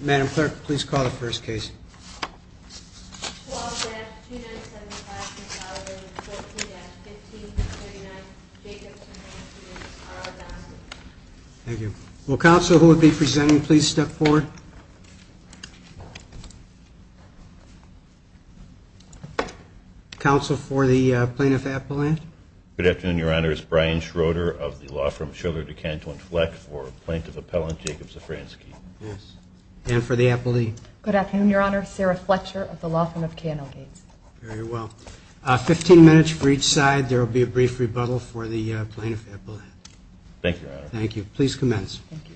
Madam Clerk, please call the first case. 12-2975-2014-15-39 Jacobs Szafranski v. Dunston Thank you. Will counsel who would be presenting please step forward. Counsel for the Plaintiff Appellant. Good afternoon, Your Honor. It's Brian Schroeder of the law firm Schiller DeCanto Inflect for Plaintiff Appellant Jacob Szafranski. And for the appellee. Good afternoon, Your Honor. Sarah Fletcher of the law firm of K&L Gates. Very well. 15 minutes for each side. There will be a brief rebuttal for the Plaintiff Appellate. Thank you, Your Honor. Thank you. Please commence. Thank you.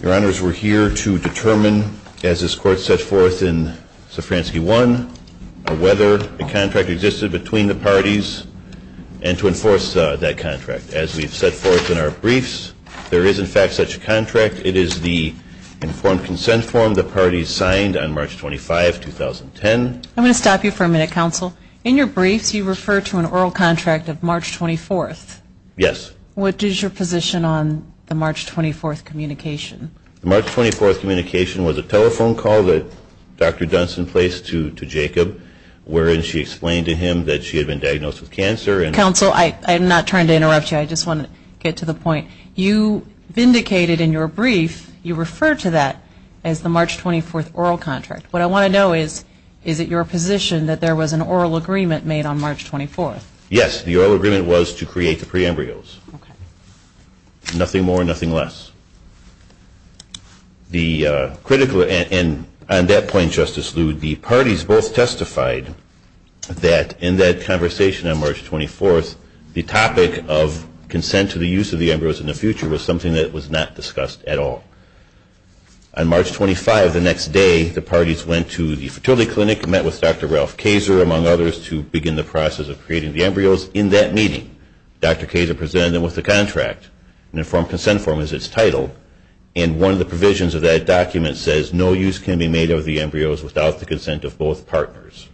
Your Honors, we're here to determine, as this Court set forth in Szafranski 1, whether a contract existed between the parties and to enforce that contract. As we've set forth in our briefs, there is in fact such a contract. It is the informed consent form the parties signed on March 25, 2010. I'm going to stop you for a minute, Counsel. In your briefs, you refer to an oral contract of March 24th. Yes. What is your position on the March 24th communication? The March 24th communication was a telephone call that Dr. Dunson placed to Jacob, wherein she explained to him that she had been diagnosed with cancer. Counsel, I'm not trying to interrupt you. I just want to get to the point. You vindicated in your brief, you referred to that as the March 24th oral contract. What I want to know is, is it your position that there was an oral agreement made on March 24th? Yes. The oral agreement was to create the pre-embryos. Nothing more, nothing less. On that point, Justice Lew, the parties both testified that in that conversation on March 24th, the topic of consent to the use of the embryos in the future was something that was not discussed at all. On March 25, the next day, the parties went to the fertility clinic, met with Dr. Ralph Kazer, among others, to begin the process of creating the embryos. In that meeting, Dr. Kazer presented them with the contract. An informed consent form is its title, and one of the provisions of that document says, no use can be made of the embryos without the consent of both partners.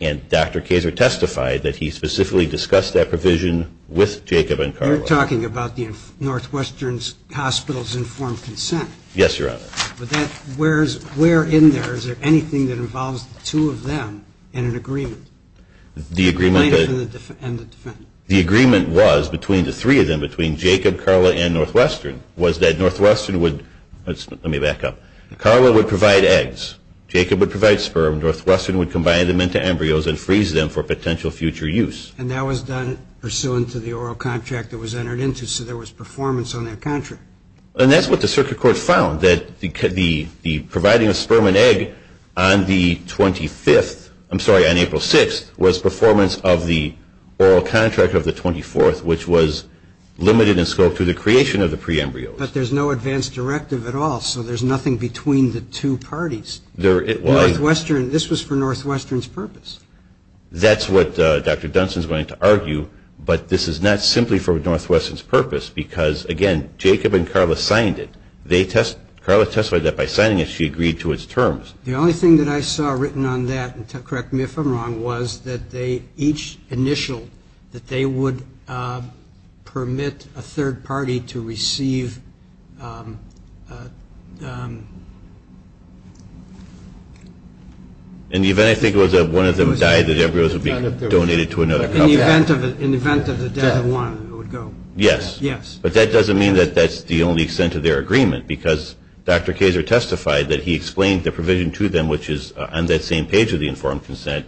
And Dr. Kazer testified that he specifically discussed that provision with Jacob and Carla. You're talking about the Northwestern Hospital's informed consent. Yes, Your Honor. But where in there is there anything that involves the two of them in an agreement? The plaintiff and the defendant. The agreement was between the three of them, between Jacob, Carla, and Northwestern, was that Northwestern would – let me back up. Carla would provide eggs. Jacob would provide sperm. Northwestern would combine them into embryos and freeze them for potential future use. And that was done pursuant to the oral contract that was entered into, so there was performance on that contract. And that's what the circuit court found, that the providing of sperm and egg on the 25th, I'm sorry, on April 6th, was performance of the oral contract of the 24th, which was limited in scope to the creation of the pre-embryos. But there's no advance directive at all, so there's nothing between the two parties. Northwestern – this was for Northwestern's purpose. That's what Dr. Dunstan's going to argue, but this is not simply for Northwestern's purpose, because, again, Jacob and Carla signed it. They – Carla testified that by signing it, she agreed to its terms. The only thing that I saw written on that, and correct me if I'm wrong, was that they each initialed that they would permit a third party to receive – In the event I think it was that one of them died, the embryos would be donated to another company. In the event of the death of one, it would go. Yes. Yes. But that doesn't mean that that's the only extent of their agreement, because Dr. Kazer testified that he explained the provision to them, which is on that same page of the informed consent,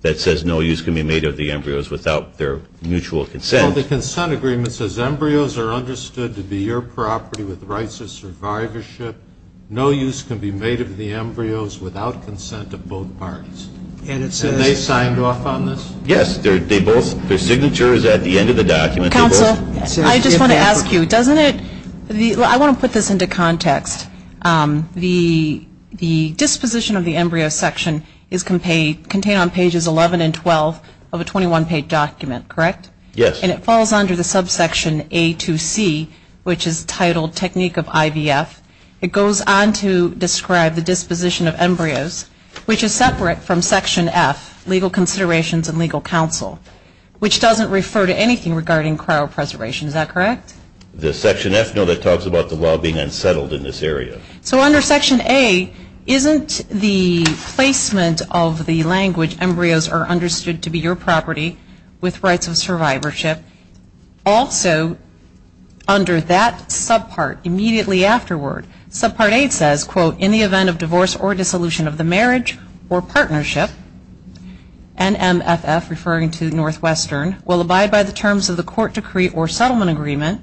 that says no use can be made of the embryos without their mutual consent. So the consent agreement says embryos are understood to be your property with rights of survivorship. No use can be made of the embryos without consent of both parties. And it says – And they signed off on this? Yes. They both – their signature is at the end of the document. Counsel, I just want to ask you, doesn't it – I want to put this into context. The disposition of the embryo section is contained on pages 11 and 12 of a 21-page document, correct? Yes. And it falls under the subsection A2C, which is titled technique of IVF. It goes on to describe the disposition of embryos, which is separate from section F, legal considerations and legal counsel, which doesn't refer to anything regarding cryopreservation. Is that correct? The section F? No, that talks about the law being unsettled in this area. So under section A, isn't the placement of the language embryos are understood to be your property with rights of survivorship also under that subpart immediately afterward? Subpart A says, quote, in the event of divorce or dissolution of the marriage or partnership, NMFF, referring to Northwestern, will abide by the terms of the court decree or settlement agreement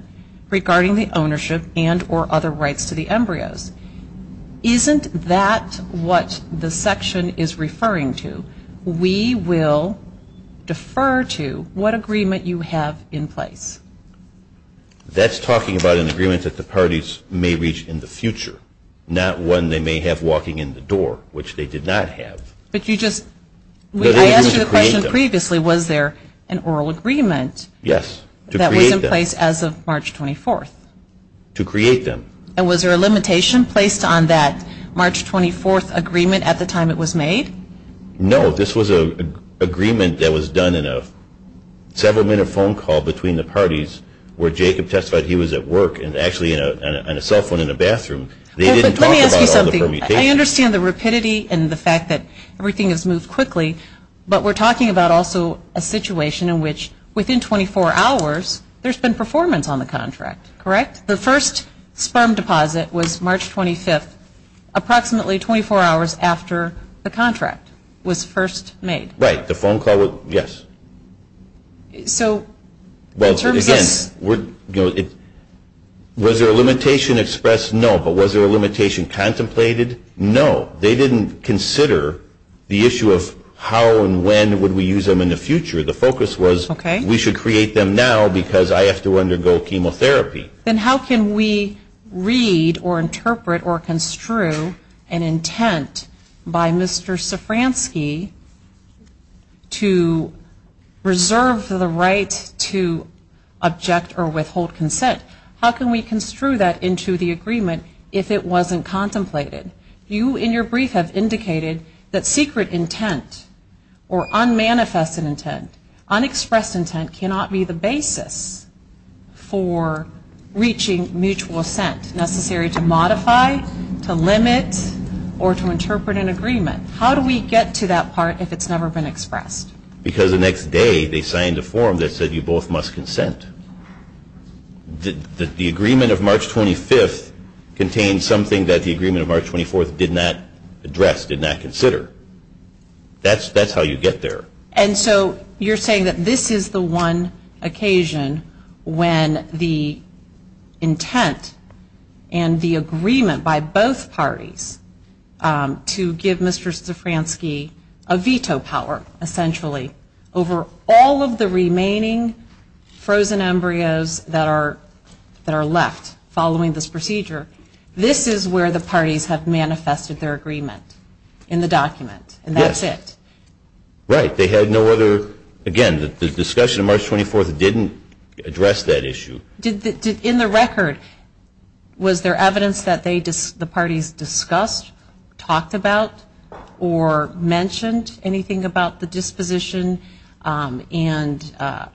regarding the ownership and or other rights to the embryos. Isn't that what the section is referring to? We will defer to what agreement you have in place. That's talking about an agreement that the parties may reach in the future, not one they may have walking in the door, which they did not have. I asked you the question previously, was there an oral agreement that was in place as of March 24th? To create them. And was there a limitation placed on that March 24th agreement at the time it was made? No, this was an agreement that was done in a several-minute phone call between the parties where Jacob testified he was at work and actually on a cell phone in the bathroom. Let me ask you something. I understand the rapidity and the fact that everything has moved quickly, but we're talking about also a situation in which within 24 hours there's been performance on the contract, correct? The first sperm deposit was March 25th, approximately 24 hours after the contract was first made. Right, the phone call, yes. Well, again, was there a limitation expressed? No. But was there a limitation contemplated? No. They didn't consider the issue of how and when would we use them in the future. The focus was we should create them now because I have to undergo chemotherapy. Then how can we read or interpret or construe an intent by Mr. Safranski to reserve the right to object or withhold consent? How can we construe that into the agreement if it wasn't contemplated? You, in your brief, have indicated that secret intent or unmanifested intent, unexpressed intent cannot be the basis for reaching mutual assent necessary to modify, to limit, or to interpret an agreement. How do we get to that part if it's never been expressed? Because the next day they signed a form that said you both must consent. The agreement of March 25th contained something that the agreement of March 24th did not address, did not consider. That's how you get there. And so you're saying that this is the one occasion when the intent and the agreement by both parties to give Mr. Safranski a veto power, essentially, over all of the remaining frozen embryos that are left following this procedure, this is where the parties have manifested their agreement in the document and that's it? Yes. Right. They had no other, again, the discussion of March 24th didn't address that issue. In the record, was there evidence that the parties discussed, talked about, or mentioned anything about the disposition and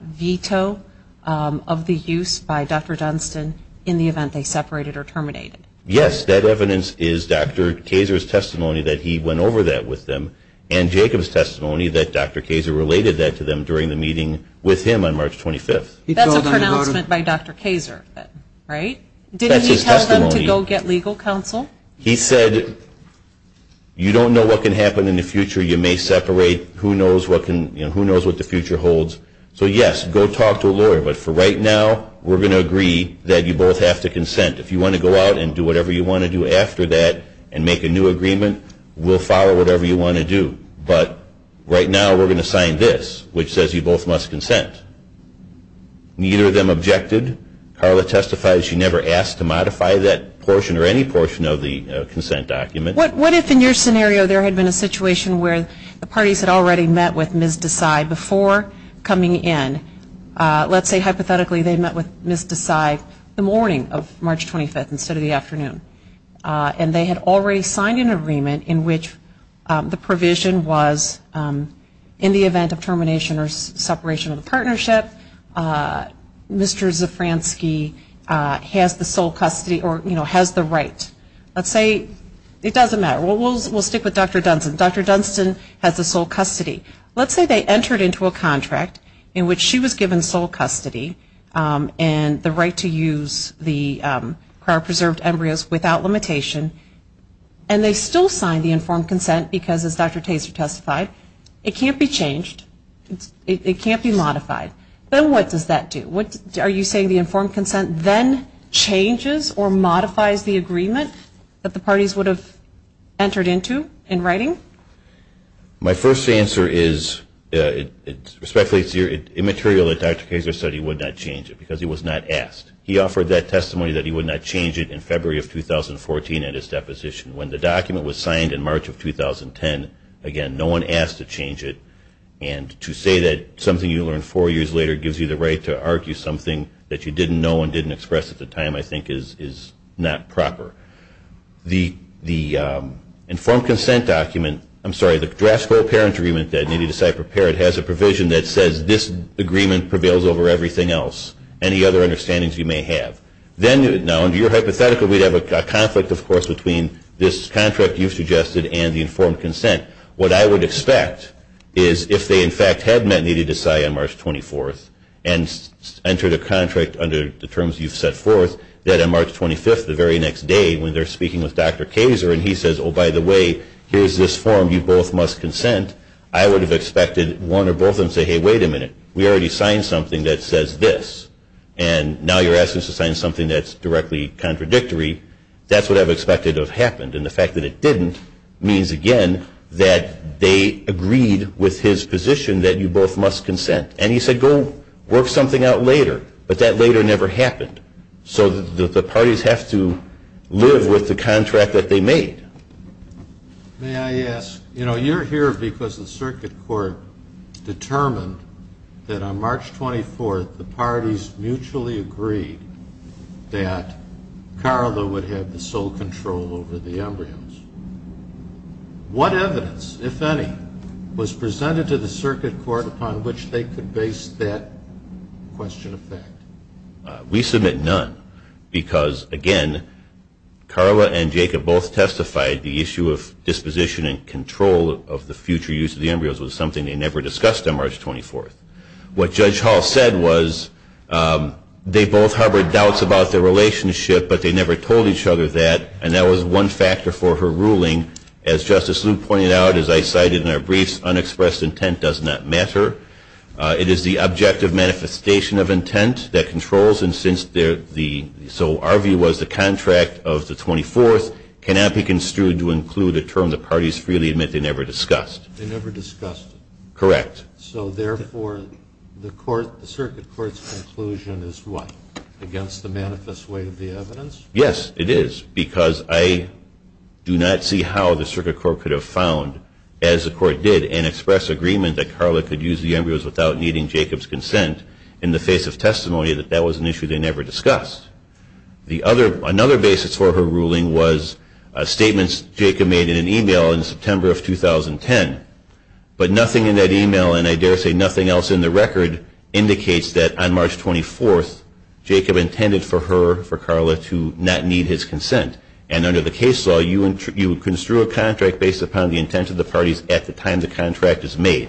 veto of the use by Dr. Dunstan in the event they separated or terminated? Yes. That evidence is Dr. Kayser's testimony that he went over that with them. And Jacob's testimony that Dr. Kayser related that to them during the meeting with him on March 25th. That's a pronouncement by Dr. Kayser, right? That's his testimony. Didn't he tell them to go get legal counsel? He said, you don't know what can happen in the future. You may separate. Who knows what the future holds? So, yes, go talk to a lawyer. But for right now, we're going to agree that you both have to consent. If you want to go out and do whatever you want to do after that and make a new agreement, we'll follow whatever you want to do. But right now, we're going to sign this, which says you both must consent. Neither of them objected. Carla testified she never asked to modify that portion or any portion of the consent document. What if in your scenario there had been a situation where the parties had already met with Ms. Desai before coming in? Let's say, hypothetically, they met with Ms. Desai the morning of March 25th instead of the afternoon. And they had already signed an agreement in which the provision was in the event of termination or separation of the partnership, Mr. Zafransky has the sole custody or, you know, has the right. Let's say it doesn't matter. We'll stick with Dr. Dunstan. Dr. Dunstan has the sole custody. Let's say they entered into a contract in which she was given sole custody and the right to use the two of our preserved embryos without limitation. And they still signed the informed consent because, as Dr. Taser testified, it can't be changed. It can't be modified. Then what does that do? Are you saying the informed consent then changes or modifies the agreement that the parties would have entered into in writing? My first answer is, respectfully, it's immaterial that Dr. Taser said he would not change it because he was not asked. He offered that testimony that he would not change it in February of 2014 at his deposition. When the document was signed in March of 2010, again, no one asked to change it. And to say that something you learned four years later gives you the right to argue something that you didn't know and didn't express at the time, I think, is not proper. The informed consent document, I'm sorry, the draft co-parent agreement that needed to be prepared has a provision that says this agreement prevails over everything else. Any other understandings you may have. Then, now, under your hypothetical, we'd have a conflict, of course, between this contract you've suggested and the informed consent. What I would expect is if they, in fact, had met need to decide on March 24th and entered a contract under the terms you've set forth, that on March 25th, the very next day, when they're speaking with Dr. Taser and he says, oh, by the way, here's this form. You both must consent. I would have expected one or both of them to say, hey, wait a minute. We already signed something that says this. And now you're asking us to sign something that's directly contradictory. That's what I've expected to have happened. And the fact that it didn't means, again, that they agreed with his position that you both must consent. And he said, go work something out later. But that later never happened. So the parties have to live with the contract that they made. May I ask, you're here because the circuit court determined that on March 24th, the parties mutually agreed that Carla would have the sole control over the embryos. What evidence, if any, was presented to the circuit court upon which they could base that question of fact? We submit none. Because, again, Carla and Jacob both testified the issue of disposition and control of the future use of the embryos was something they never discussed on March 24th. What Judge Hall said was they both harbored doubts about their relationship, but they never told each other that. And that was one factor for her ruling. As Justice Luke pointed out, as I cited in our briefs, unexpressed intent does not matter. It is the objective manifestation of intent that controls. So our view was the contract of the 24th cannot be construed to include a term the parties freely admit they never discussed. They never discussed it. Correct. So, therefore, the circuit court's conclusion is what? Against the manifest weight of the evidence? Yes, it is. Because I do not see how the circuit court could have found, as the court did, and expressed agreement that Carla could use the embryos without needing Jacob's consent in the face of testimony that that was an issue they never discussed. Another basis for her ruling was statements Jacob made in an email in September of 2010. But nothing in that email, and I dare say nothing else in the record, indicates that on March 24th, Jacob intended for her, for Carla, to not need his consent. And under the case law, you would construe a contract based upon the intent of the parties at the time the contract is made.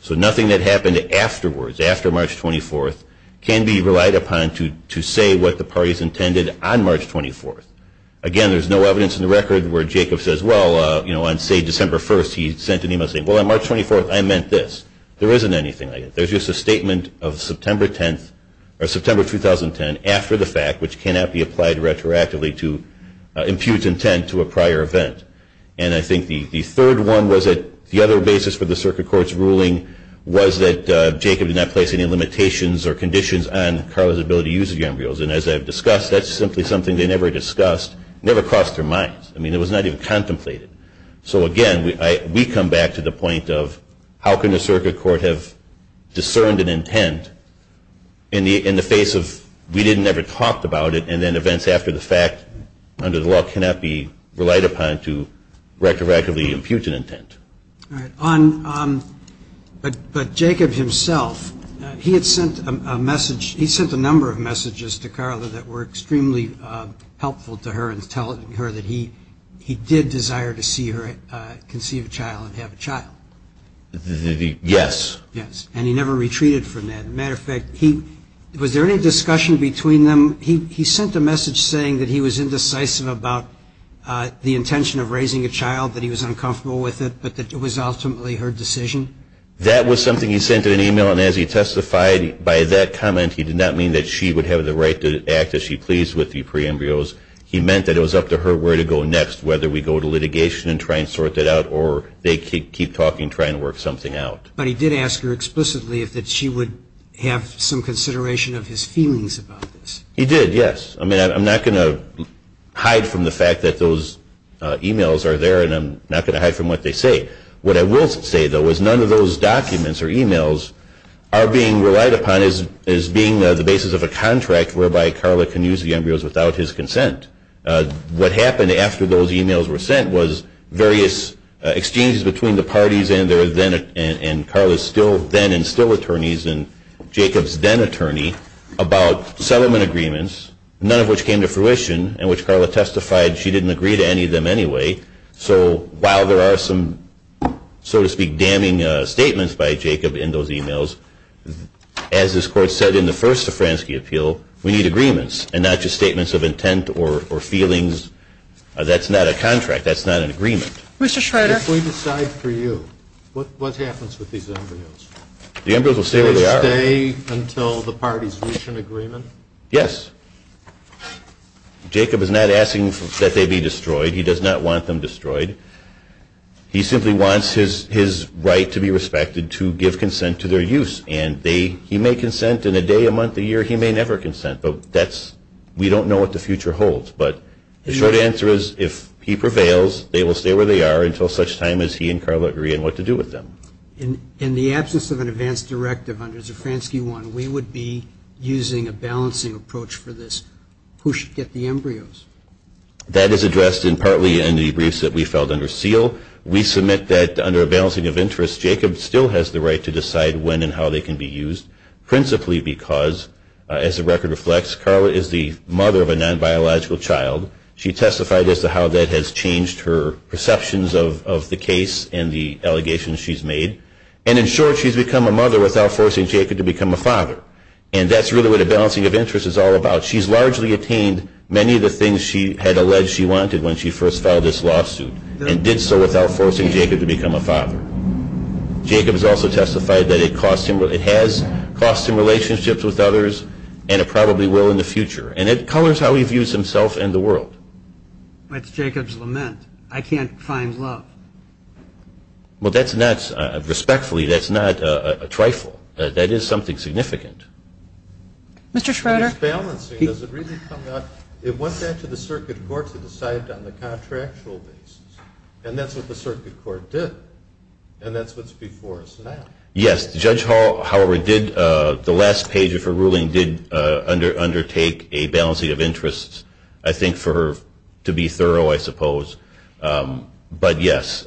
So nothing that happened afterwards, after March 24th, can be relied upon to say what the parties intended on March 24th. Again, there's no evidence in the record where Jacob says, well, you know, on, say, December 1st, he sent an email saying, well, on March 24th, I meant this. There isn't anything like that. There's just a statement of September 10th, or September 2010, after the fact, which cannot be applied retroactively to impute intent to a prior event. And I think the third one was that the other basis for the Circuit Court's ruling was that Jacob did not place any limitations or conditions on Carla's ability to use the embryos. And as I've discussed, that's simply something they never discussed. It never crossed their minds. I mean, it was not even contemplated. So again, we come back to the point of how can the Circuit Court have discerned an intent in the face of we didn't ever talk about it, and then events after the fact, under the law, cannot be relied upon to retroactively impute an intent. All right. But Jacob himself, he had sent a message. He sent a number of messages to Carla that were extremely helpful to her in telling her that he did desire to see her conceive a child and have a child. Yes. Yes. And he never retreated from that. As a matter of fact, was there any discussion between them? He sent a message saying that he was indecisive about the intention of raising a child, that he was uncomfortable with it, but that it was ultimately her decision. That was something he sent in an e-mail, and as he testified by that comment, he did not mean that she would have the right to act as she pleased with the pre-embryos. He meant that it was up to her where to go next, whether we go to litigation and try and sort that out, or they keep talking, trying to work something out. But he did ask her explicitly if she would have some consideration of his feelings about this. He did, yes. I mean, I'm not going to hide from the fact that those e-mails are there, and I'm not going to hide from what they say. What I will say, though, is none of those documents or e-mails are being relied upon as being the basis of a contract whereby Carla can use the embryos without his consent. What happened after those e-mails were sent was various exchanges between the parties and Carla's then and still attorneys and Jacob's then attorney about settlement agreements, none of which came to fruition, and which Carla testified she didn't agree to any of them anyway. So while there are some, so to speak, damning statements by Jacob in those e-mails, as this Court said in the first Safranski appeal, we need agreements and not just statements of intent or feelings. That's not an agreement. Mr. Schrader? If we decide for you, what happens with these embryos? The embryos will stay where they are. Will they stay until the parties reach an agreement? Yes. Jacob is not asking that they be destroyed. He does not want them destroyed. He simply wants his right to be respected to give consent to their use, and he may consent in a day, a month, a year. He may never consent, but we don't know what the future holds. But the short answer is if he prevails, they will stay where they are until such time as he and Carla agree on what to do with them. In the absence of an advance directive under Safranski 1, we would be using a balancing approach for this. Who should get the embryos? That is addressed partly in the briefs that we filed under seal. We submit that under a balancing of interests, Jacob still has the right to decide when and how they can be used, principally because, as the record reflects, Carla is the mother of a non-biological child. She testified as to how that has changed her perceptions of the case and the allegations she's made. And in short, she's become a mother without forcing Jacob to become a father. And that's really what a balancing of interests is all about. She's largely obtained many of the things she had alleged she wanted when she Jacob has also testified that it has cost him relationships with others and it probably will in the future. And it colors how he views himself and the world. That's Jacob's lament. I can't find love. Well, respectfully, that's not a trifle. That is something significant. Mr. Schroeder. It is balancing. It went back to the circuit court to decide it on the contractual basis. And that's what the circuit court did. And that's what's before us now. Yes. Judge Howard did, the last page of her ruling, did undertake a balancing of interests, I think, for her to be thorough, I suppose. But, yes,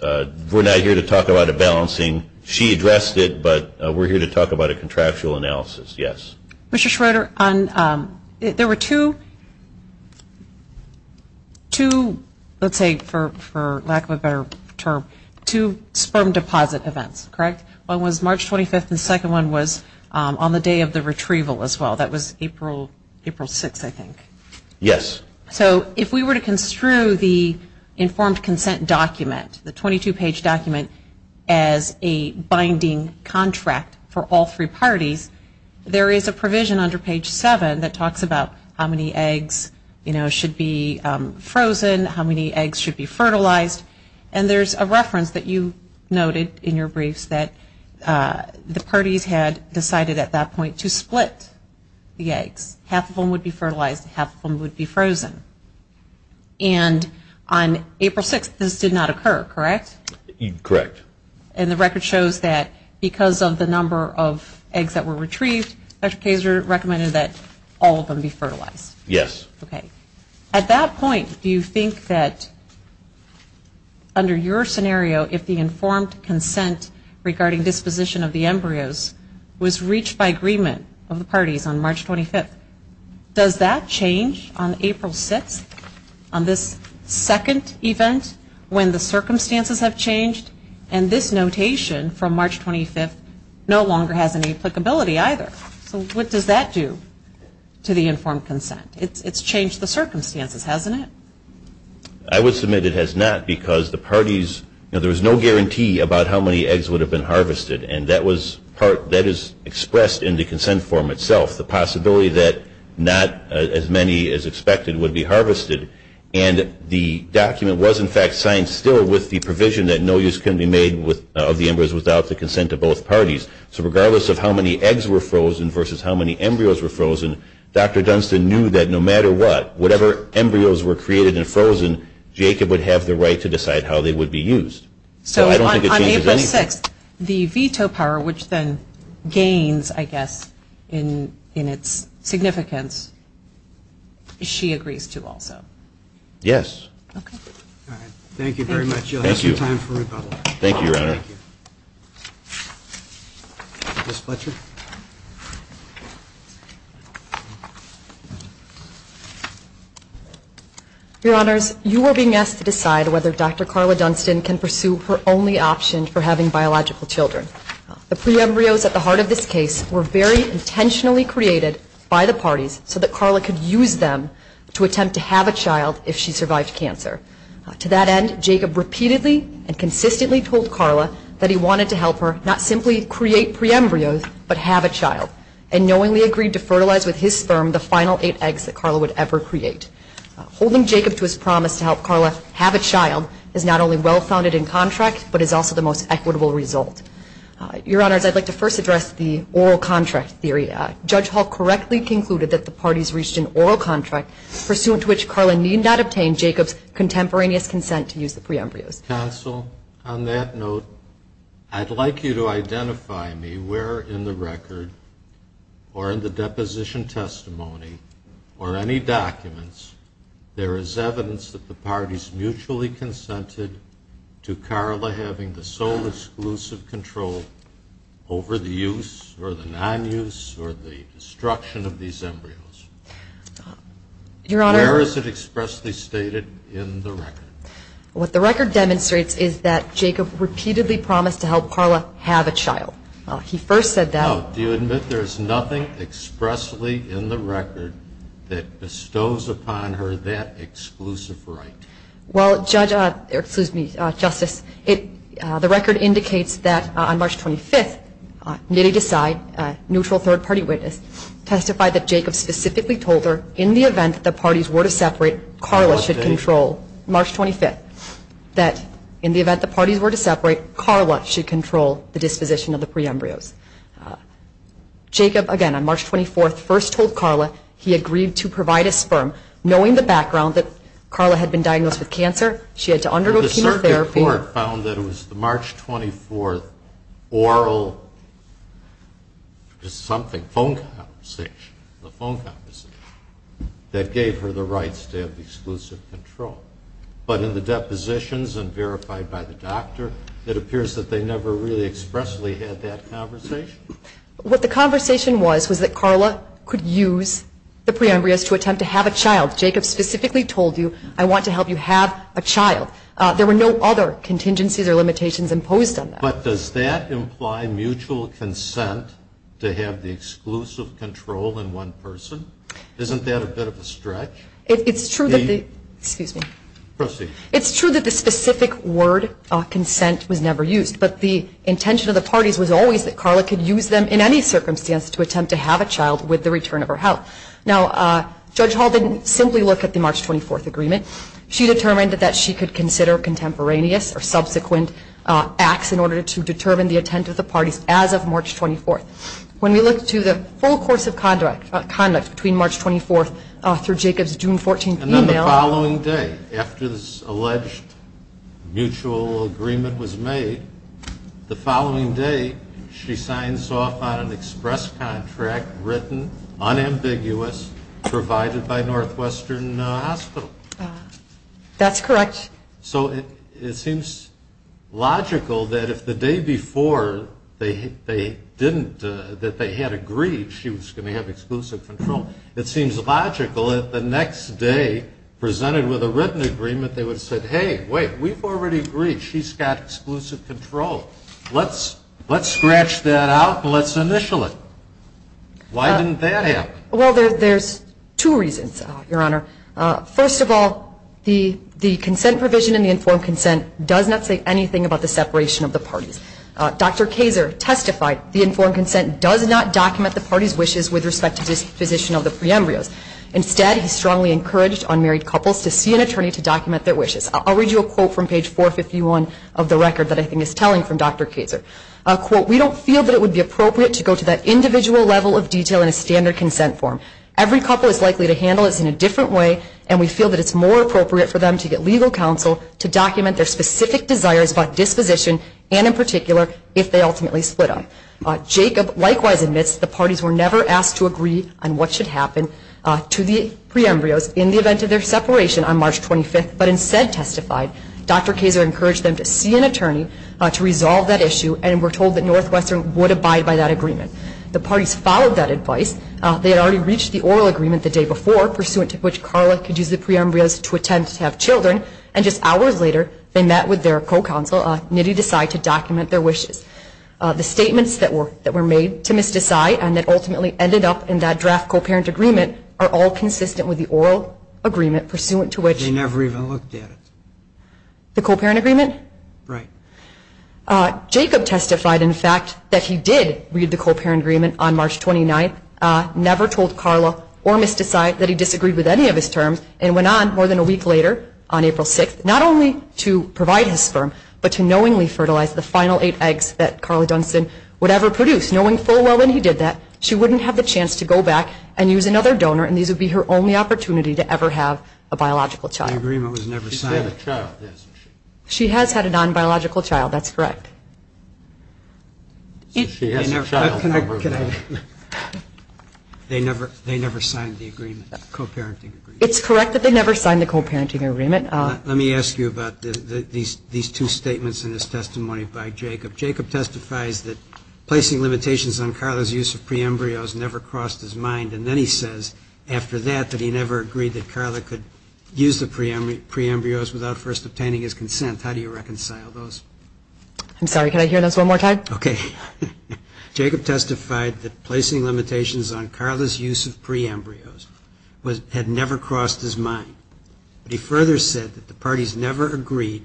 we're not here to talk about a balancing. She addressed it, but we're here to talk about a contractual analysis, yes. Mr. Schroeder, there were two, let's say for lack of a better term, two sperm deposit events, correct? One was March 25th and the second one was on the day of the retrieval as well. That was April 6th, I think. Yes. So if we were to construe the informed consent document, the 22-page document as a binding contract for all three parties, there is a provision under page 7 that talks about how many eggs, you know, should be frozen, how many eggs should be fertilized. And there's a reference that you noted in your briefs that the parties had decided at that point to split the eggs. Half of them would be fertilized and half of them would be frozen. And on April 6th this did not occur, correct? Correct. And the record shows that because of the number of eggs that were retrieved, Dr. Kazer recommended that all of them be fertilized. Yes. Okay. At that point, do you think that under your scenario, if the informed consent regarding disposition of the embryos was reached by agreement of the parties on March 25th, does that change on April 6th on this second event when the circumstances have changed and this notation from March 25th no longer has any applicability either? So what does that do to the informed consent? It's changed the circumstances, hasn't it? I would submit it has not because the parties, you know, there was no guarantee about how many eggs would have been harvested. And that is expressed in the consent form itself, the possibility that not as many as expected would be harvested. And the document was, in fact, signed still with the provision that no use can be made of the embryos without the consent of both parties. So regardless of how many eggs were frozen versus how many embryos were frozen, Dr. Dunstan knew that no matter what, whatever embryos were created and frozen, Jacob would have the right to decide how they would be used. So I don't think it changes anything. So on April 6th, the veto power, which then gains, I guess, in its significance, she agrees to also? Yes. Okay. All right. Thank you very much. You'll have some time for rebuttal. Thank you, Your Honor. Thank you. Ms. Fletcher? Your Honors, you are being asked to decide whether Dr. Carla Dunstan can pursue her only option for having biological children. The pre-embryos at the heart of this case were very intentionally created by the parties so that Carla could use them to attempt to have a child if she survived cancer. To that end, Jacob repeatedly and consistently told Carla that he wanted to help her not simply create pre-embryos, but have a child, and knowingly agreed to fertilize with his sperm the final eight eggs that Carla would ever create. Holding Jacob to his promise to help Carla have a child is not only well-founded in contract, but is also the most equitable result. Your Honors, I'd like to first address the oral contract theory. Judge Hall correctly concluded that the parties reached an oral contract, pursuant to which Carla need not obtain Jacob's contemporaneous consent to use the pre-embryos. Counsel, on that note, I'd like you to identify me where in the record or in the deposition testimony or any documents there is evidence that the parties mutually consented to Carla having the sole exclusive control over the use or the non-use or the destruction of these embryos. Your Honor. Where is it expressly stated in the record? What the record demonstrates is that Jacob repeatedly promised to help Carla have a child. He first said that. Now, do you admit there is nothing expressly in the record that bestows upon her that exclusive right? Well, Justice, the record indicates that on March 25th, Nitty Desai, a neutral third-party witness, testified that Jacob specifically told her in the event that the parties were to separate, Carla should control, March 25th, that in the event the parties were to separate, Carla should control the disposition of the pre-embryos. Jacob, again, on March 24th, first told Carla he agreed to provide a sperm, knowing the background that Carla had been diagnosed with cancer. She had to undergo chemotherapy. The circuit court found that it was the March 24th oral phone conversation that gave her the rights to have exclusive control. But in the depositions and verified by the doctor, it appears that they never really expressly had that conversation. What the conversation was was that Carla could use the pre-embryos to attempt to have a child. Jacob specifically told you, I want to help you have a child. There were no other contingencies or limitations imposed on that. But does that imply mutual consent to have the exclusive control in one person? Isn't that a bit of a stretch? It's true that the specific word, consent, was never used. But the intention of the parties was always that Carla could use them in any circumstance to attempt to have a child with the return of her health. Now, Judge Hall didn't simply look at the March 24th agreement. She determined that she could consider contemporaneous or subsequent acts in order to determine the intent of the parties as of March 24th. When we look to the full course of conduct between March 24th through Jacob's June 14th email. And then the following day, after this alleged mutual agreement was made, the following day she signs off on an express contract written, unambiguous, provided by Northwestern Hospital. That's correct. So it seems logical that if the day before that they had agreed she was going to have exclusive control, it seems logical that the next day, presented with a written agreement, they would have said, hey, wait, we've already agreed. She's got exclusive control. Let's scratch that out and let's initial it. Why didn't that happen? Well, there's two reasons, Your Honor. First of all, the consent provision in the informed consent does not say anything about the separation of the parties. Dr. Kazer testified the informed consent does not document the parties' wishes with respect to disposition of the pre-embryos. Instead, he strongly encouraged unmarried couples to see an attorney to document their wishes. I'll read you a quote from page 451 of the record that I think is telling from Dr. Kazer. Quote, we don't feel that it would be appropriate to go to that individual level of detail in a standard consent form. Every couple is likely to handle this in a different way, and we feel that it's more appropriate for them to get legal counsel to document their specific desires about disposition and, in particular, if they ultimately split up. Jacob likewise admits the parties were never asked to agree on what should happen to the pre-embryos in the event of their separation on March 25th, but instead testified. Dr. Kazer encouraged them to see an attorney to resolve that issue, and we're told that Northwestern would abide by that agreement. The parties followed that advice. They had already reached the oral agreement the day before, pursuant to which Carla could use the pre-embryos to attempt to have children, and just hours later they met with their co-counsel, Nidhi Desai, to document their wishes. The statements that were made to Ms. Desai and that ultimately ended up in that draft co-parent agreement are all consistent with the oral agreement, pursuant to which- They never even looked at it. The co-parent agreement? Right. Jacob testified, in fact, that he did read the co-parent agreement on March 29th, never told Carla or Ms. Desai that he disagreed with any of his terms, and went on more than a week later, on April 6th, not only to provide his sperm, but to knowingly fertilize the final eight eggs that Carla Dunson would ever produce. Knowing full well that he did that, she wouldn't have the chance to go back and use another donor, and these would be her only opportunity to ever have a biological child. The agreement was never signed. She's had a child. She has had a non-biological child. That's correct. She has a child. They never signed the agreement, the co-parenting agreement. It's correct that they never signed the co-parenting agreement. Let me ask you about these two statements in this testimony by Jacob. Jacob testifies that placing limitations on Carla's use of pre-embryos never crossed his mind, and then he says after that that he never agreed that Carla could use the pre-embryos without first obtaining his consent. How do you reconcile those? I'm sorry. Can I hear those one more time? Okay. Jacob testified that placing limitations on Carla's use of pre-embryos had never crossed his mind. He further said that the parties never agreed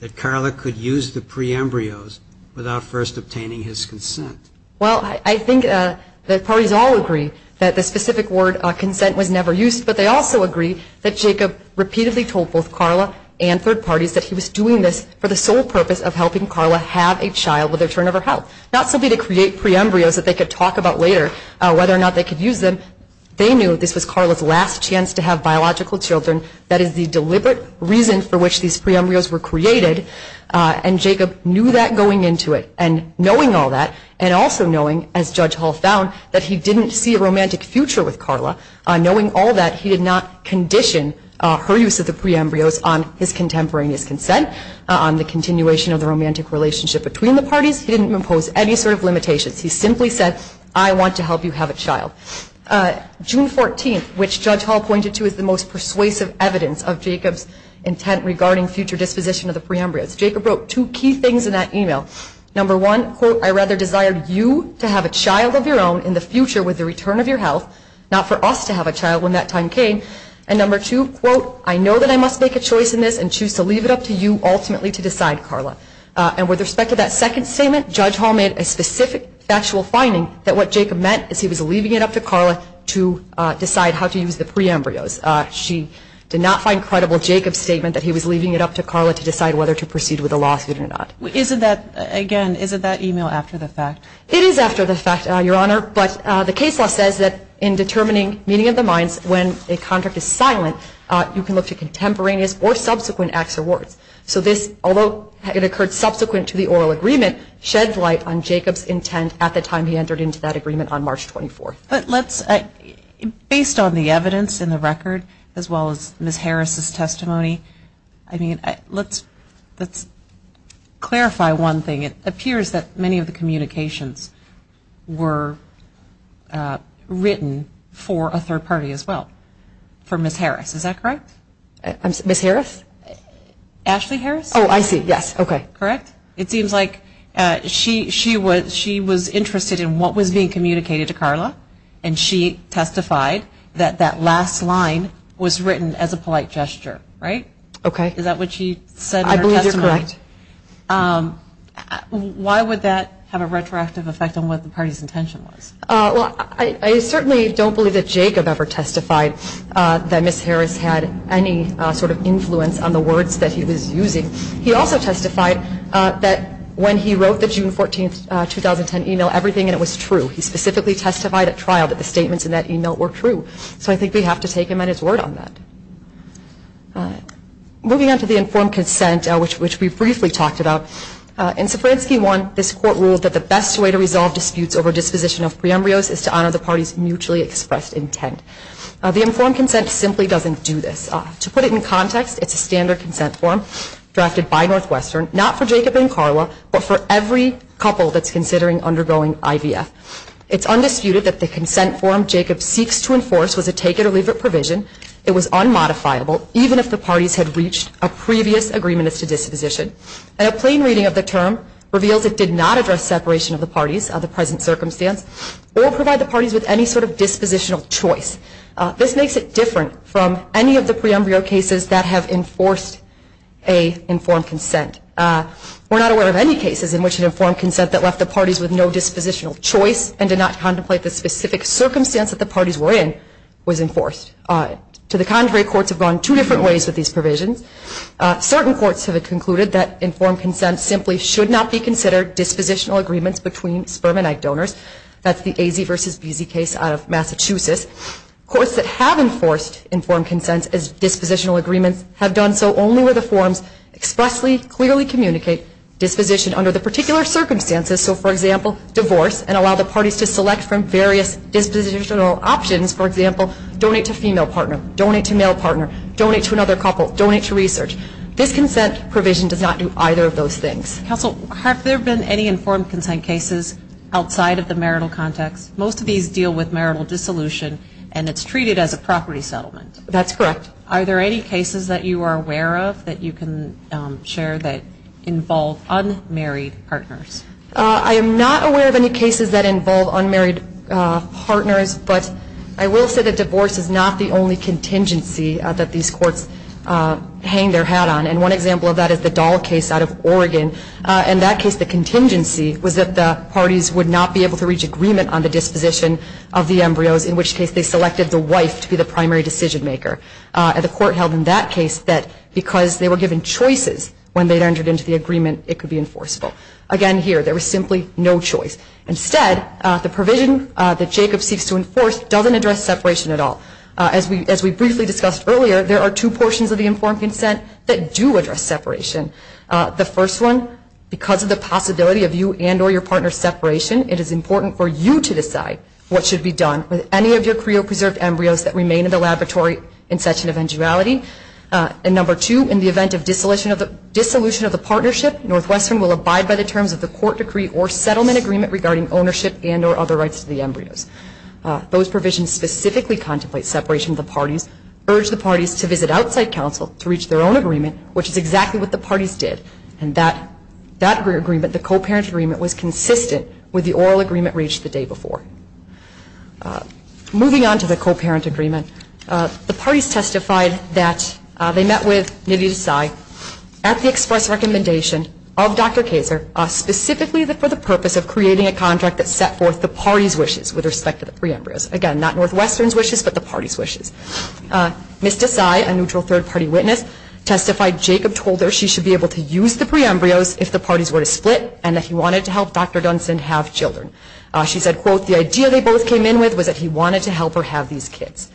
that Carla could use the pre-embryos without first obtaining his consent. Well, I think the parties all agree that the specific word, consent, was never used, but they also agree that Jacob repeatedly told both Carla and third parties that he was doing this for the sole purpose of helping Carla have a child with a turnover health, not simply to create pre-embryos that they could talk about later whether or not they could use them. They knew this was Carla's last chance to have biological children. That is the deliberate reason for which these pre-embryos were created, and Jacob knew that going into it, and knowing all that, and also knowing, as Judge Hall found, that he didn't see a romantic future with Carla. Knowing all that, he did not condition her use of the pre-embryos on his contemporaneous consent, on the continuation of the romantic relationship between the parties. He didn't impose any sort of limitations. He simply said, I want to help you have a child. June 14th, which Judge Hall pointed to as the most persuasive evidence of Jacob's intent regarding future disposition of the pre-embryos, Jacob wrote two key things in that email. Number one, quote, I rather desire you to have a child of your own in the future with the return of your health, not for us to have a child when that time came. And number two, quote, I know that I must make a choice in this And with respect to that second statement, Judge Hall made a specific factual finding that what Jacob meant is he was leaving it up to Carla to decide how to use the pre-embryos. She did not find credible Jacob's statement that he was leaving it up to Carla to decide whether to proceed with the lawsuit or not. Isn't that, again, isn't that email after the fact? It is after the fact, Your Honor, but the case law says that in determining meaning of the minds when a contract is silent, you can look to contemporaneous or subsequent acts or words. So this, although it occurred subsequent to the oral agreement, shed light on Jacob's intent at the time he entered into that agreement on March 24th. But let's, based on the evidence in the record as well as Ms. Harris' testimony, I mean, let's clarify one thing. It appears that many of the communications were written for a third party as well, for Ms. Harris. Is that correct? Ms. Harris? Ashley Harris? Oh, I see, yes, okay. Correct? It seems like she was interested in what was being communicated to Carla, and she testified that that last line was written as a polite gesture, right? Is that what she said in her testimony? I believe you're correct. Why would that have a retroactive effect on what the party's intention was? Well, I certainly don't believe that Jacob ever testified that Ms. Harris had any sort of influence on the words that he was using. He also testified that when he wrote the June 14th, 2010 email, everything in it was true. He specifically testified at trial that the statements in that email were true. So I think we have to take him at his word on that. Moving on to the informed consent, which we briefly talked about, in Sapransky 1, this court ruled that the best way to resolve disputes over disposition of pre-embryos is to honor the party's mutually expressed intent. The informed consent simply doesn't do this. To put it in context, it's a standard consent form drafted by Northwestern, not for Jacob and Carla, but for every couple that's considering undergoing IVF. It's undisputed that the consent form Jacob seeks to enforce was a take-it-or-leave-it provision. It was unmodifiable, even if the parties had reached a previous agreement as to disposition. And a plain reading of the term reveals it did not address separation of the parties under the present circumstance or provide the parties with any sort of dispositional choice. This makes it different from any of the pre-embryo cases that have enforced an informed consent. We're not aware of any cases in which an informed consent that left the parties with no dispositional choice and did not contemplate the specific circumstance that the parties were in was enforced. To the contrary, courts have gone two different ways with these provisions. Certain courts have concluded that informed consent simply should not be considered dispositional agreements between sperm and egg donors. That's the AZ versus BZ case out of Massachusetts. Courts that have enforced informed consent as dispositional agreements have done so only where the forms expressly, clearly communicate disposition under the particular circumstances. So, for example, divorce and allow the parties to select from various dispositional options. For example, donate to female partner, donate to male partner, donate to another couple, donate to research. This consent provision does not do either of those things. Counsel, have there been any informed consent cases outside of the marital context? Most of these deal with marital dissolution and it's treated as a property settlement. That's correct. Are there any cases that you are aware of that you can share that involve unmarried partners? I am not aware of any cases that involve unmarried partners, but I will say that divorce is not the only contingency that these courts hang their hat on. And one example of that is the Dahl case out of Oregon. In that case, the contingency was that the parties would not be able to reach agreement on the disposition of the embryos, in which case they selected the wife to be the primary decision maker. The court held in that case that because they were given choices when they entered into the agreement, it could be enforceable. Again, here, there was simply no choice. Instead, the provision that Jacob seeks to enforce doesn't address separation at all. As we briefly discussed earlier, there are two portions of the informed consent that do address separation. The first one, because of the possibility of you and or your partner's separation, it is important for you to decide what should be done with any of your creopreserved embryos that remain in the laboratory in such an eventuality. And number two, in the event of dissolution of the partnership, Northwestern will abide by the terms of the court decree or settlement agreement regarding ownership and or other rights to the embryos. Those provisions specifically contemplate separation of the parties, urge the parties to visit outside counsel to reach their own agreement, which is exactly what the parties did. And that agreement, the co-parent agreement, was consistent with the oral agreement reached the day before. Moving on to the co-parent agreement, the parties testified that they met with Nidhi Desai at the express recommendation of Dr. Kayser, specifically for the purpose of creating a contract that set forth the parties' wishes with respect to the pre-embryos. Again, not Northwestern's wishes, but the parties' wishes. Ms. Desai, a neutral third-party witness, testified Jacob told her she should be able to use the pre-embryos if the parties were to split and that he wanted to help Dr. Dunson have children. She said, quote, the idea they both came in with was that he wanted to help her have these kids.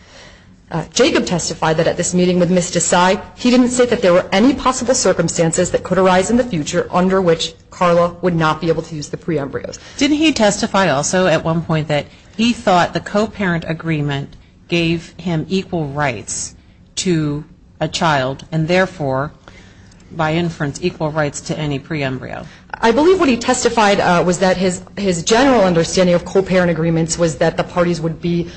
Jacob testified that at this meeting with Ms. Desai, he didn't say that there were any possible circumstances that could arise in the future under which Carla would not be able to use the pre-embryos. Didn't he testify also at one point that he thought the co-parent agreement gave him equal rights to a child and therefore, by inference, equal rights to any pre-embryo? I believe what he testified was that his general understanding of co-parent agreements was that the parties would be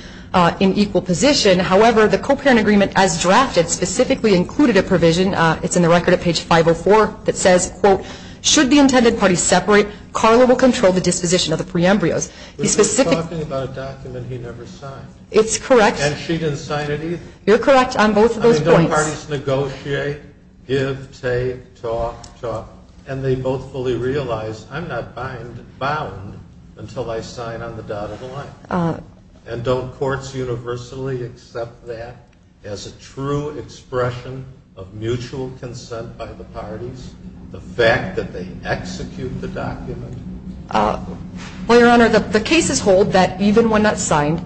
in equal position. However, the co-parent agreement as drafted specifically included a provision. It's in the record at page 504 that says, quote, should the intended parties separate, Carla will control the disposition of the pre-embryos. He specifically – But he's talking about a document he never signed. It's correct. And she didn't sign it either? You're correct on both of those points. I mean, don't parties negotiate, give, take, talk, talk, and they both fully realize, I'm not bound until I sign on the dotted line? And don't courts universally accept that as a true expression of mutual consent by the parties, the fact that they execute the document? Well, Your Honor, the cases hold that even when not signed,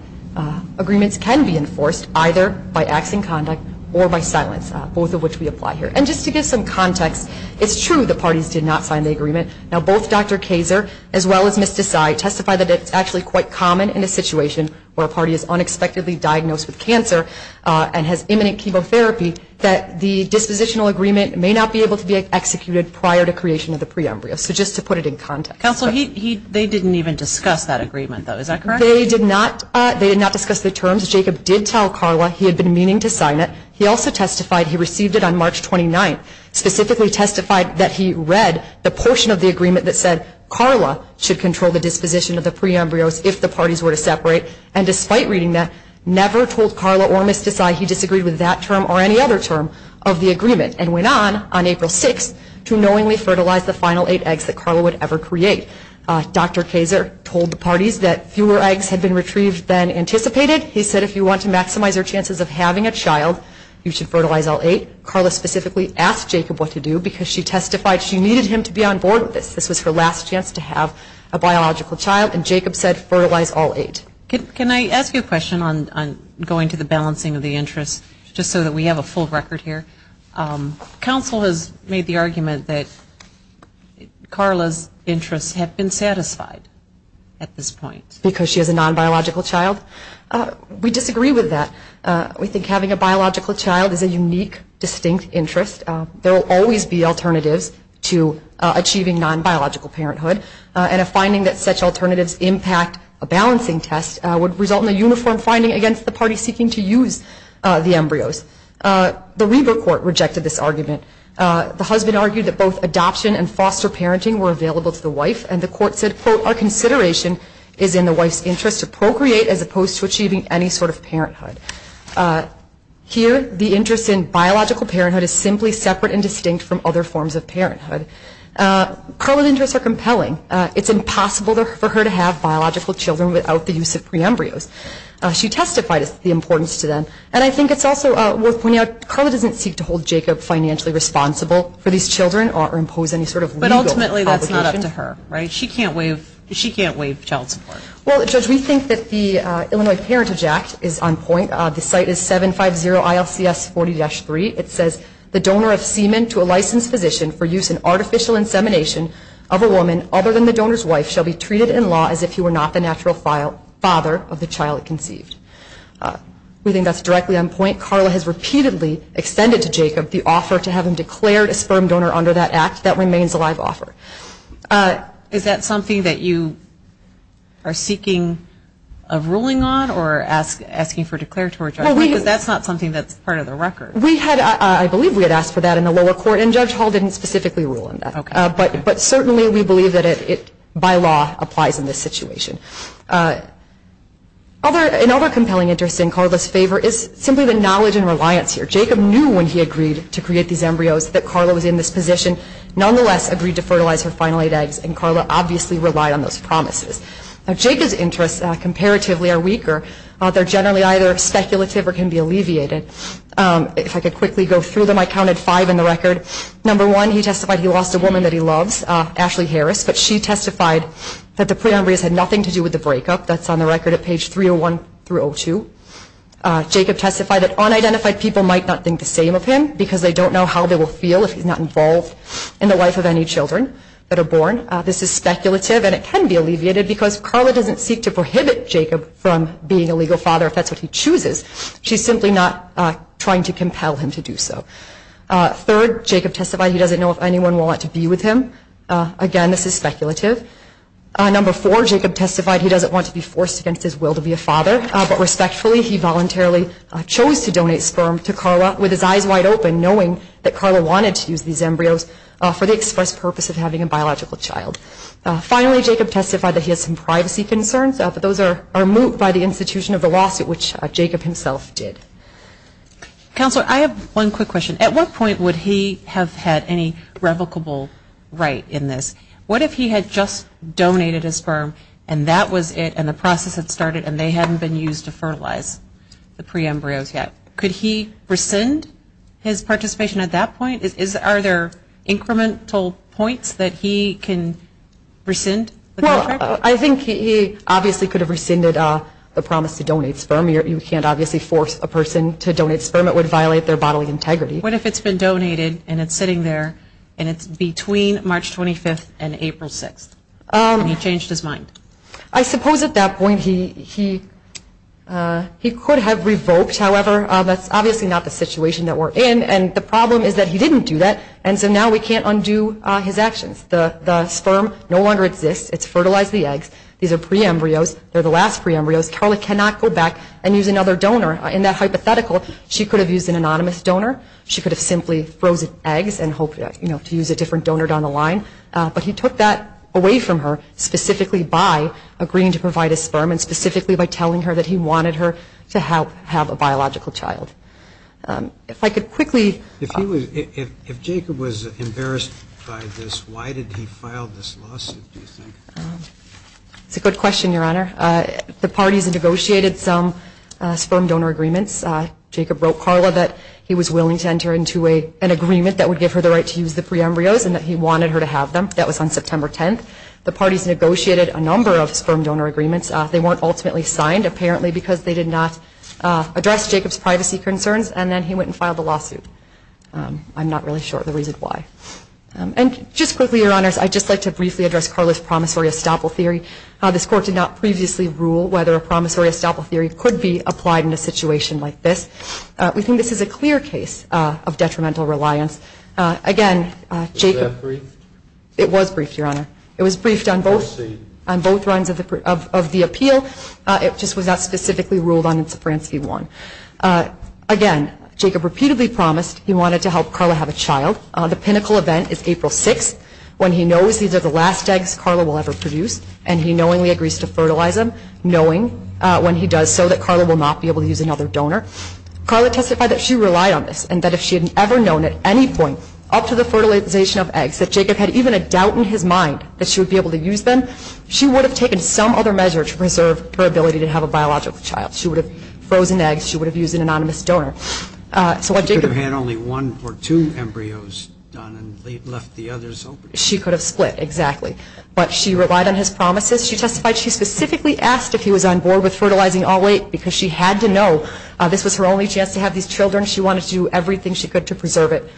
agreements can be enforced either by acts in conduct or by silence, both of which we apply here. And just to give some context, it's true the parties did not sign the agreement. Now, both Dr. Kaser as well as Ms. Desai testified that it's actually quite common in a situation where a party is unexpectedly diagnosed with cancer and has imminent chemotherapy that the dispositional agreement may not be able to be executed prior to creation of the pre-embryo. So just to put it in context. Counsel, they didn't even discuss that agreement, though. Is that correct? They did not discuss the terms. Jacob did tell Carla he had been meaning to sign it. He also testified he received it on March 29th, specifically testified that he read the portion of the agreement that said Carla should control the disposition of the pre-embryos if the parties were to separate. And despite reading that, never told Carla or Ms. Desai he disagreed with that term or any other term of the agreement and went on, on April 6th, to knowingly fertilize the final eight eggs that Carla would ever create. Dr. Kaser told the parties that fewer eggs had been retrieved than anticipated. He said if you want to maximize your chances of having a child, you should fertilize all eight. Carla specifically asked Jacob what to do because she testified she needed him to be on board with this. This was her last chance to have a biological child, and Jacob said fertilize all eight. Can I ask you a question on going to the balancing of the interests, just so that we have a full record here? Counsel has made the argument that Carla's interests have been satisfied at this point. Because she has a non-biological child? We disagree with that. We think having a biological child is a unique, distinct interest. There will always be alternatives to achieving non-biological parenthood, and a finding that such alternatives impact a balancing test would result in a uniform finding against the party seeking to use the embryos. The Reber court rejected this argument. The husband argued that both adoption and foster parenting were available to the wife, and the court said, quote, our consideration is in the wife's interest to procreate as opposed to achieving any sort of parenthood. Here, the interest in biological parenthood is simply separate and distinct from other forms of parenthood. Carla's interests are compelling. It's impossible for her to have biological children without the use of pre-embryos. She testified the importance to them, and I think it's also worth pointing out, Carla doesn't seek to hold Jacob financially responsible for these children or impose any sort of legal obligation. She can't waive child support. Well, Judge, we think that the Illinois Parentage Act is on point. The site is 750-ILCS40-3. It says, the donor of semen to a licensed physician for use in artificial insemination of a woman other than the donor's wife shall be treated in law as if he were not the natural father of the child conceived. We think that's directly on point. Carla has repeatedly extended to Jacob the offer to have him declared a sperm donor under that act. That remains a live offer. Is that something that you are seeking a ruling on or asking for a declaratory judgment? Because that's not something that's part of the record. I believe we had asked for that in the lower court, and Judge Hall didn't specifically rule on that. Okay. But certainly we believe that it, by law, applies in this situation. Another compelling interest in Carla's favor is simply the knowledge and reliance here. Jacob knew when he agreed to create these embryos that Carla was in this position. Nonetheless, agreed to fertilize her final eight eggs, and Carla obviously relied on those promises. Now, Jacob's interests comparatively are weaker. They're generally either speculative or can be alleviated. If I could quickly go through them, I counted five in the record. Number one, he testified he lost a woman that he loves, Ashley Harris, but she testified that the pre-embryos had nothing to do with the breakup. That's on the record at page 301-302. Jacob testified that unidentified people might not think the same of him because they don't know how they will feel if he's not involved in the life of any children that are born. This is speculative, and it can be alleviated, because Carla doesn't seek to prohibit Jacob from being a legal father if that's what he chooses. She's simply not trying to compel him to do so. Third, Jacob testified he doesn't know if anyone will want to be with him. Again, this is speculative. Number four, Jacob testified he doesn't want to be forced against his will to be a father, but respectfully he voluntarily chose to donate sperm to Carla with his eyes wide open, knowing that Carla wanted to use these embryos for the express purpose of having a biological child. Finally, Jacob testified that he has some privacy concerns, but those are moot by the institution of the lawsuit, which Jacob himself did. Counselor, I have one quick question. At what point would he have had any revocable right in this? What if he had just donated his sperm and that was it, and the process had started and they hadn't been used to fertilize the pre-embryos yet? Could he rescind his participation at that point? Are there incremental points that he can rescind the contract? Well, I think he obviously could have rescinded the promise to donate sperm. You can't obviously force a person to donate sperm. It would violate their bodily integrity. What if it's been donated and it's sitting there, and it's between March 25th and April 6th, and he changed his mind? I suppose at that point he could have revoked. However, that's obviously not the situation that we're in. And the problem is that he didn't do that, and so now we can't undo his actions. The sperm no longer exists. It's fertilized the eggs. These are pre-embryos. They're the last pre-embryos. Carla cannot go back and use another donor. In that hypothetical, she could have used an anonymous donor. She could have simply frozen eggs and hoped to use a different donor down the line. But he took that away from her, specifically by agreeing to provide a sperm and specifically by telling her that he wanted her to have a biological child. If I could quickly... If Jacob was embarrassed by this, why did he file this lawsuit, do you think? It's a good question, Your Honor. The parties negotiated some sperm donor agreements. Jacob wrote Carla that he was willing to enter into an agreement that would give her the right to use the pre-embryos and that he wanted her to have them. That was on September 10th. The parties negotiated a number of sperm donor agreements. They weren't ultimately signed, apparently because they did not address Jacob's privacy concerns, and then he went and filed the lawsuit. I'm not really sure the reason why. And just quickly, Your Honors, I'd just like to briefly address Carla's promissory estoppel theory. This Court did not previously rule whether a promissory estoppel theory could be applied in a situation like this. We think this is a clear case of detrimental reliance. Again, Jacob... Was that briefed? It was briefed, Your Honor. It was briefed on both... Proceed. ...on both runs of the appeal. It just was not specifically ruled on in Sopransky 1. Again, Jacob repeatedly promised he wanted to help Carla have a child. The pinnacle event is April 6th, when he knows these are the last eggs Carla will ever produce, and he knowingly agrees to fertilize them, knowing when he does so that Carla will not be able to use another donor. Carla testified that she relied on this and that if she had ever known at any point, up to the fertilization of eggs, that Jacob had even a doubt in his mind that she would be able to use them, she would have taken some other measure to preserve her ability to have a biological child. She would have frozen eggs. She would have used an anonymous donor. So what Jacob... She could have had only one or two embryos done and left the others open. She could have split, exactly. But she relied on his promises. She testified she specifically asked if he was on board with fertilizing all eight because she had to know this was her only chance to have these children. She wanted to do everything she could to preserve it.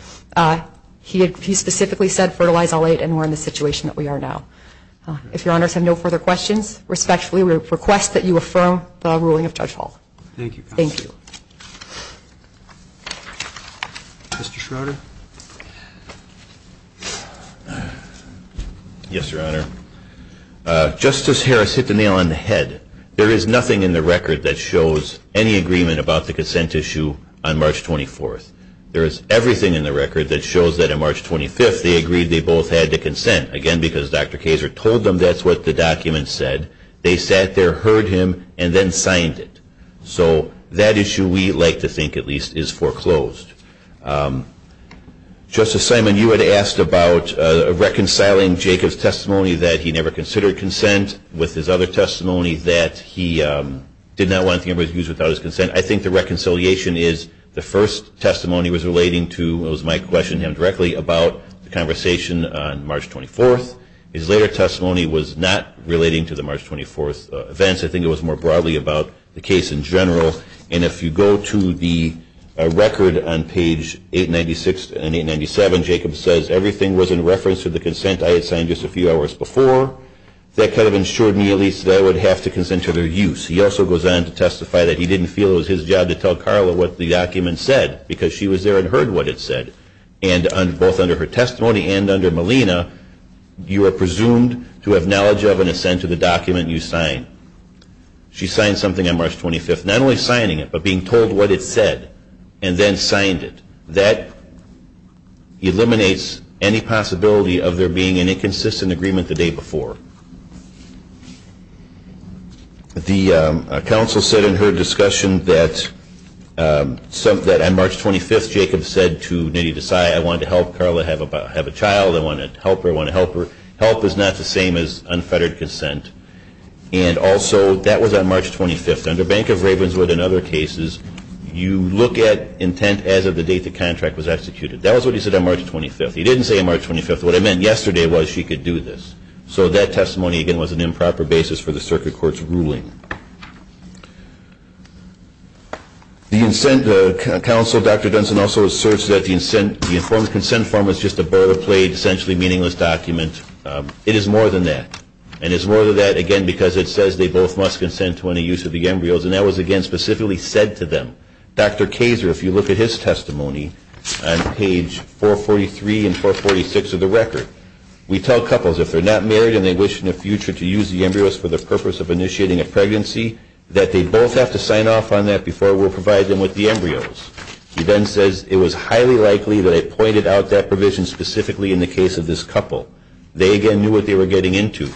He specifically said fertilize all eight, and we're in the situation that we are now. If Your Honors have no further questions, respectfully request that you affirm the ruling of Judge Hall. Thank you. Thank you. Mr. Schroeder. Yes, Your Honor. Justice Harris hit the nail on the head. There is nothing in the record that shows any agreement about the consent issue on March 24th. There is everything in the record that shows that on March 25th they agreed they both had to consent, again because Dr. Kaser told them that's what the document said. They sat there, heard him, and then signed it. So that issue, we like to think at least, is foreclosed. Justice Simon, you had asked about reconciling Jacob's testimony that he never considered consent with his other testimony that he did not want to use without his consent. I think the reconciliation is the first testimony was relating to, it was my question to him directly, about the conversation on March 24th. His later testimony was not relating to the March 24th events. I think it was more broadly about the case in general. And if you go to the record on page 896 and 897, Jacob says everything was in reference to the consent I had signed just a few hours before. That kind of ensured me at least that I would have to consent to their use. He also goes on to testify that he didn't feel it was his job to tell Carla what the document said because she was there and heard what it said. And both under her testimony and under Melina, you are presumed to have knowledge of and assent to the document you signed. She signed something on March 25th, not only signing it, but being told what it said, and then signed it. And that eliminates any possibility of there being an inconsistent agreement the day before. The counsel said in her discussion that on March 25th, Jacob said to Nidhi Desai, I wanted to help Carla have a child. I want to help her. I want to help her. Help is not the same as unfettered consent. And also, that was on March 25th. Under Bank of Ravenswood and other cases, you look at intent as of the date the contract was executed. That was what he said on March 25th. He didn't say on March 25th. What I meant yesterday was she could do this. So that testimony, again, was an improper basis for the circuit court's ruling. The consent counsel, Dr. Dunson, also asserts that the consent form is just a boilerplate, essentially meaningless document. It is more than that. And it's more than that, again, because it says they both must consent to any use of the embryos. And that was, again, specifically said to them. Dr. Kazer, if you look at his testimony on page 443 and 446 of the record, we tell couples if they're not married and they wish in the future to use the embryos for the purpose of initiating a pregnancy, that they both have to sign off on that before we'll provide them with the embryos. He then says it was highly likely that it pointed out that provision specifically in the case of this couple. They, again, knew what they were getting into.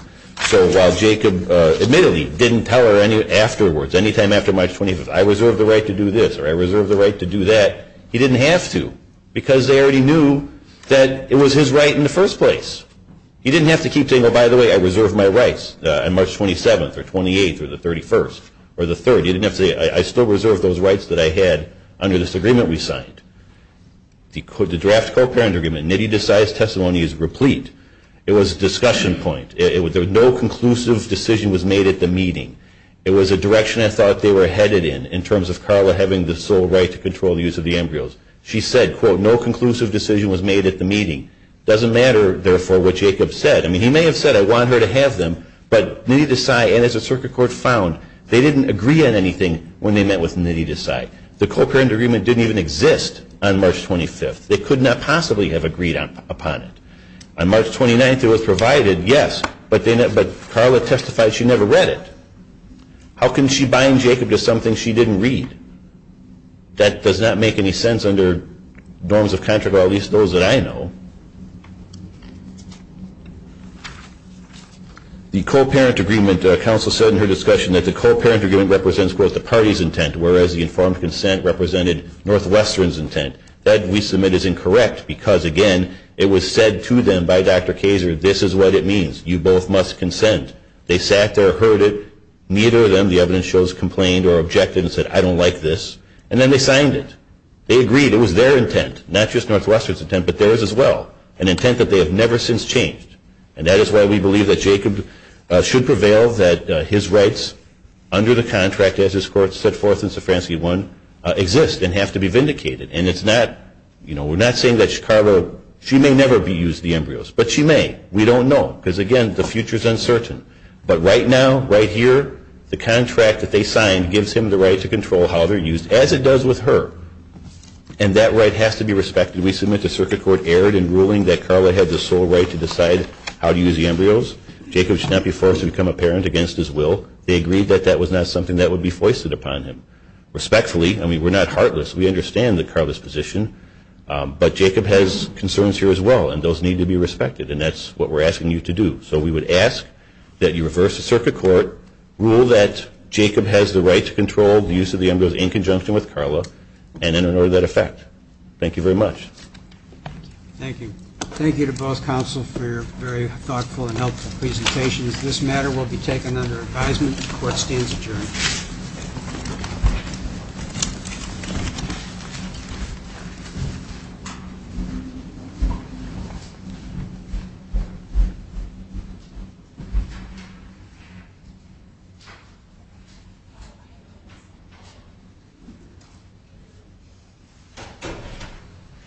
So while Jacob admittedly didn't tell her afterwards, anytime after March 25th, I reserve the right to do this or I reserve the right to do that, he didn't have to because they already knew that it was his right in the first place. He didn't have to keep saying, oh, by the way, I reserve my rights on March 27th or 28th or the 31st or the 30th. He didn't have to say, I still reserve those rights that I had under this agreement we signed. The draft co-parent agreement, Nidhi Desai's testimony is replete. It was a discussion point. No conclusive decision was made at the meeting. It was a direction I thought they were headed in, in terms of Carla having the sole right to control the use of the embryos. She said, quote, no conclusive decision was made at the meeting. It doesn't matter, therefore, what Jacob said. I mean, he may have said, I want her to have them, but Nidhi Desai and his circuit court found they didn't agree on anything when they met with Nidhi Desai. The co-parent agreement didn't even exist on March 25th. They could not possibly have agreed upon it. On March 29th, it was provided, yes, but Carla testified she never read it. How can she bind Jacob to something she didn't read? That does not make any sense under norms of contract, or at least those that I know. The co-parent agreement, counsel said in her discussion that the co-parent agreement represents, quote, the party's intent, whereas the informed consent represented Northwestern's intent. That, we submit, is incorrect because, again, it was said to them by Dr. Kayser, this is what it means. You both must consent. They sat there, heard it. Neither of them, the evidence shows, complained or objected and said, I don't like this. And then they signed it. They agreed it was their intent, not just Northwestern's intent, but theirs as well, an intent that they have never since changed. And that is why we believe that Jacob should prevail that his rights under the contract, as this Court set forth in Safranski 1, exist and have to be vindicated. And it's not, you know, we're not saying that Carla, she may never be used to the embryos, but she may. We don't know because, again, the future is uncertain. But right now, right here, the contract that they signed gives him the right to control how they're used, as it does with her. And that right has to be respected. We submit the circuit court erred in ruling that Carla had the sole right to decide how to use the embryos. Jacob should not be forced to become a parent against his will. They agreed that that was not something that would be foisted upon him. Respectfully, I mean, we're not heartless. We understand Carla's position. But Jacob has concerns here as well, and those need to be respected. And that's what we're asking you to do. So we would ask that you reverse the circuit court, rule that Jacob has the right to control the use of the embryos in conjunction with Carla, and in order to that effect. Thank you very much. Thank you. Thank you to both counsel for your very thoughtful and helpful presentations. This matter will be taken under advisement. The court stands adjourned. Thank you.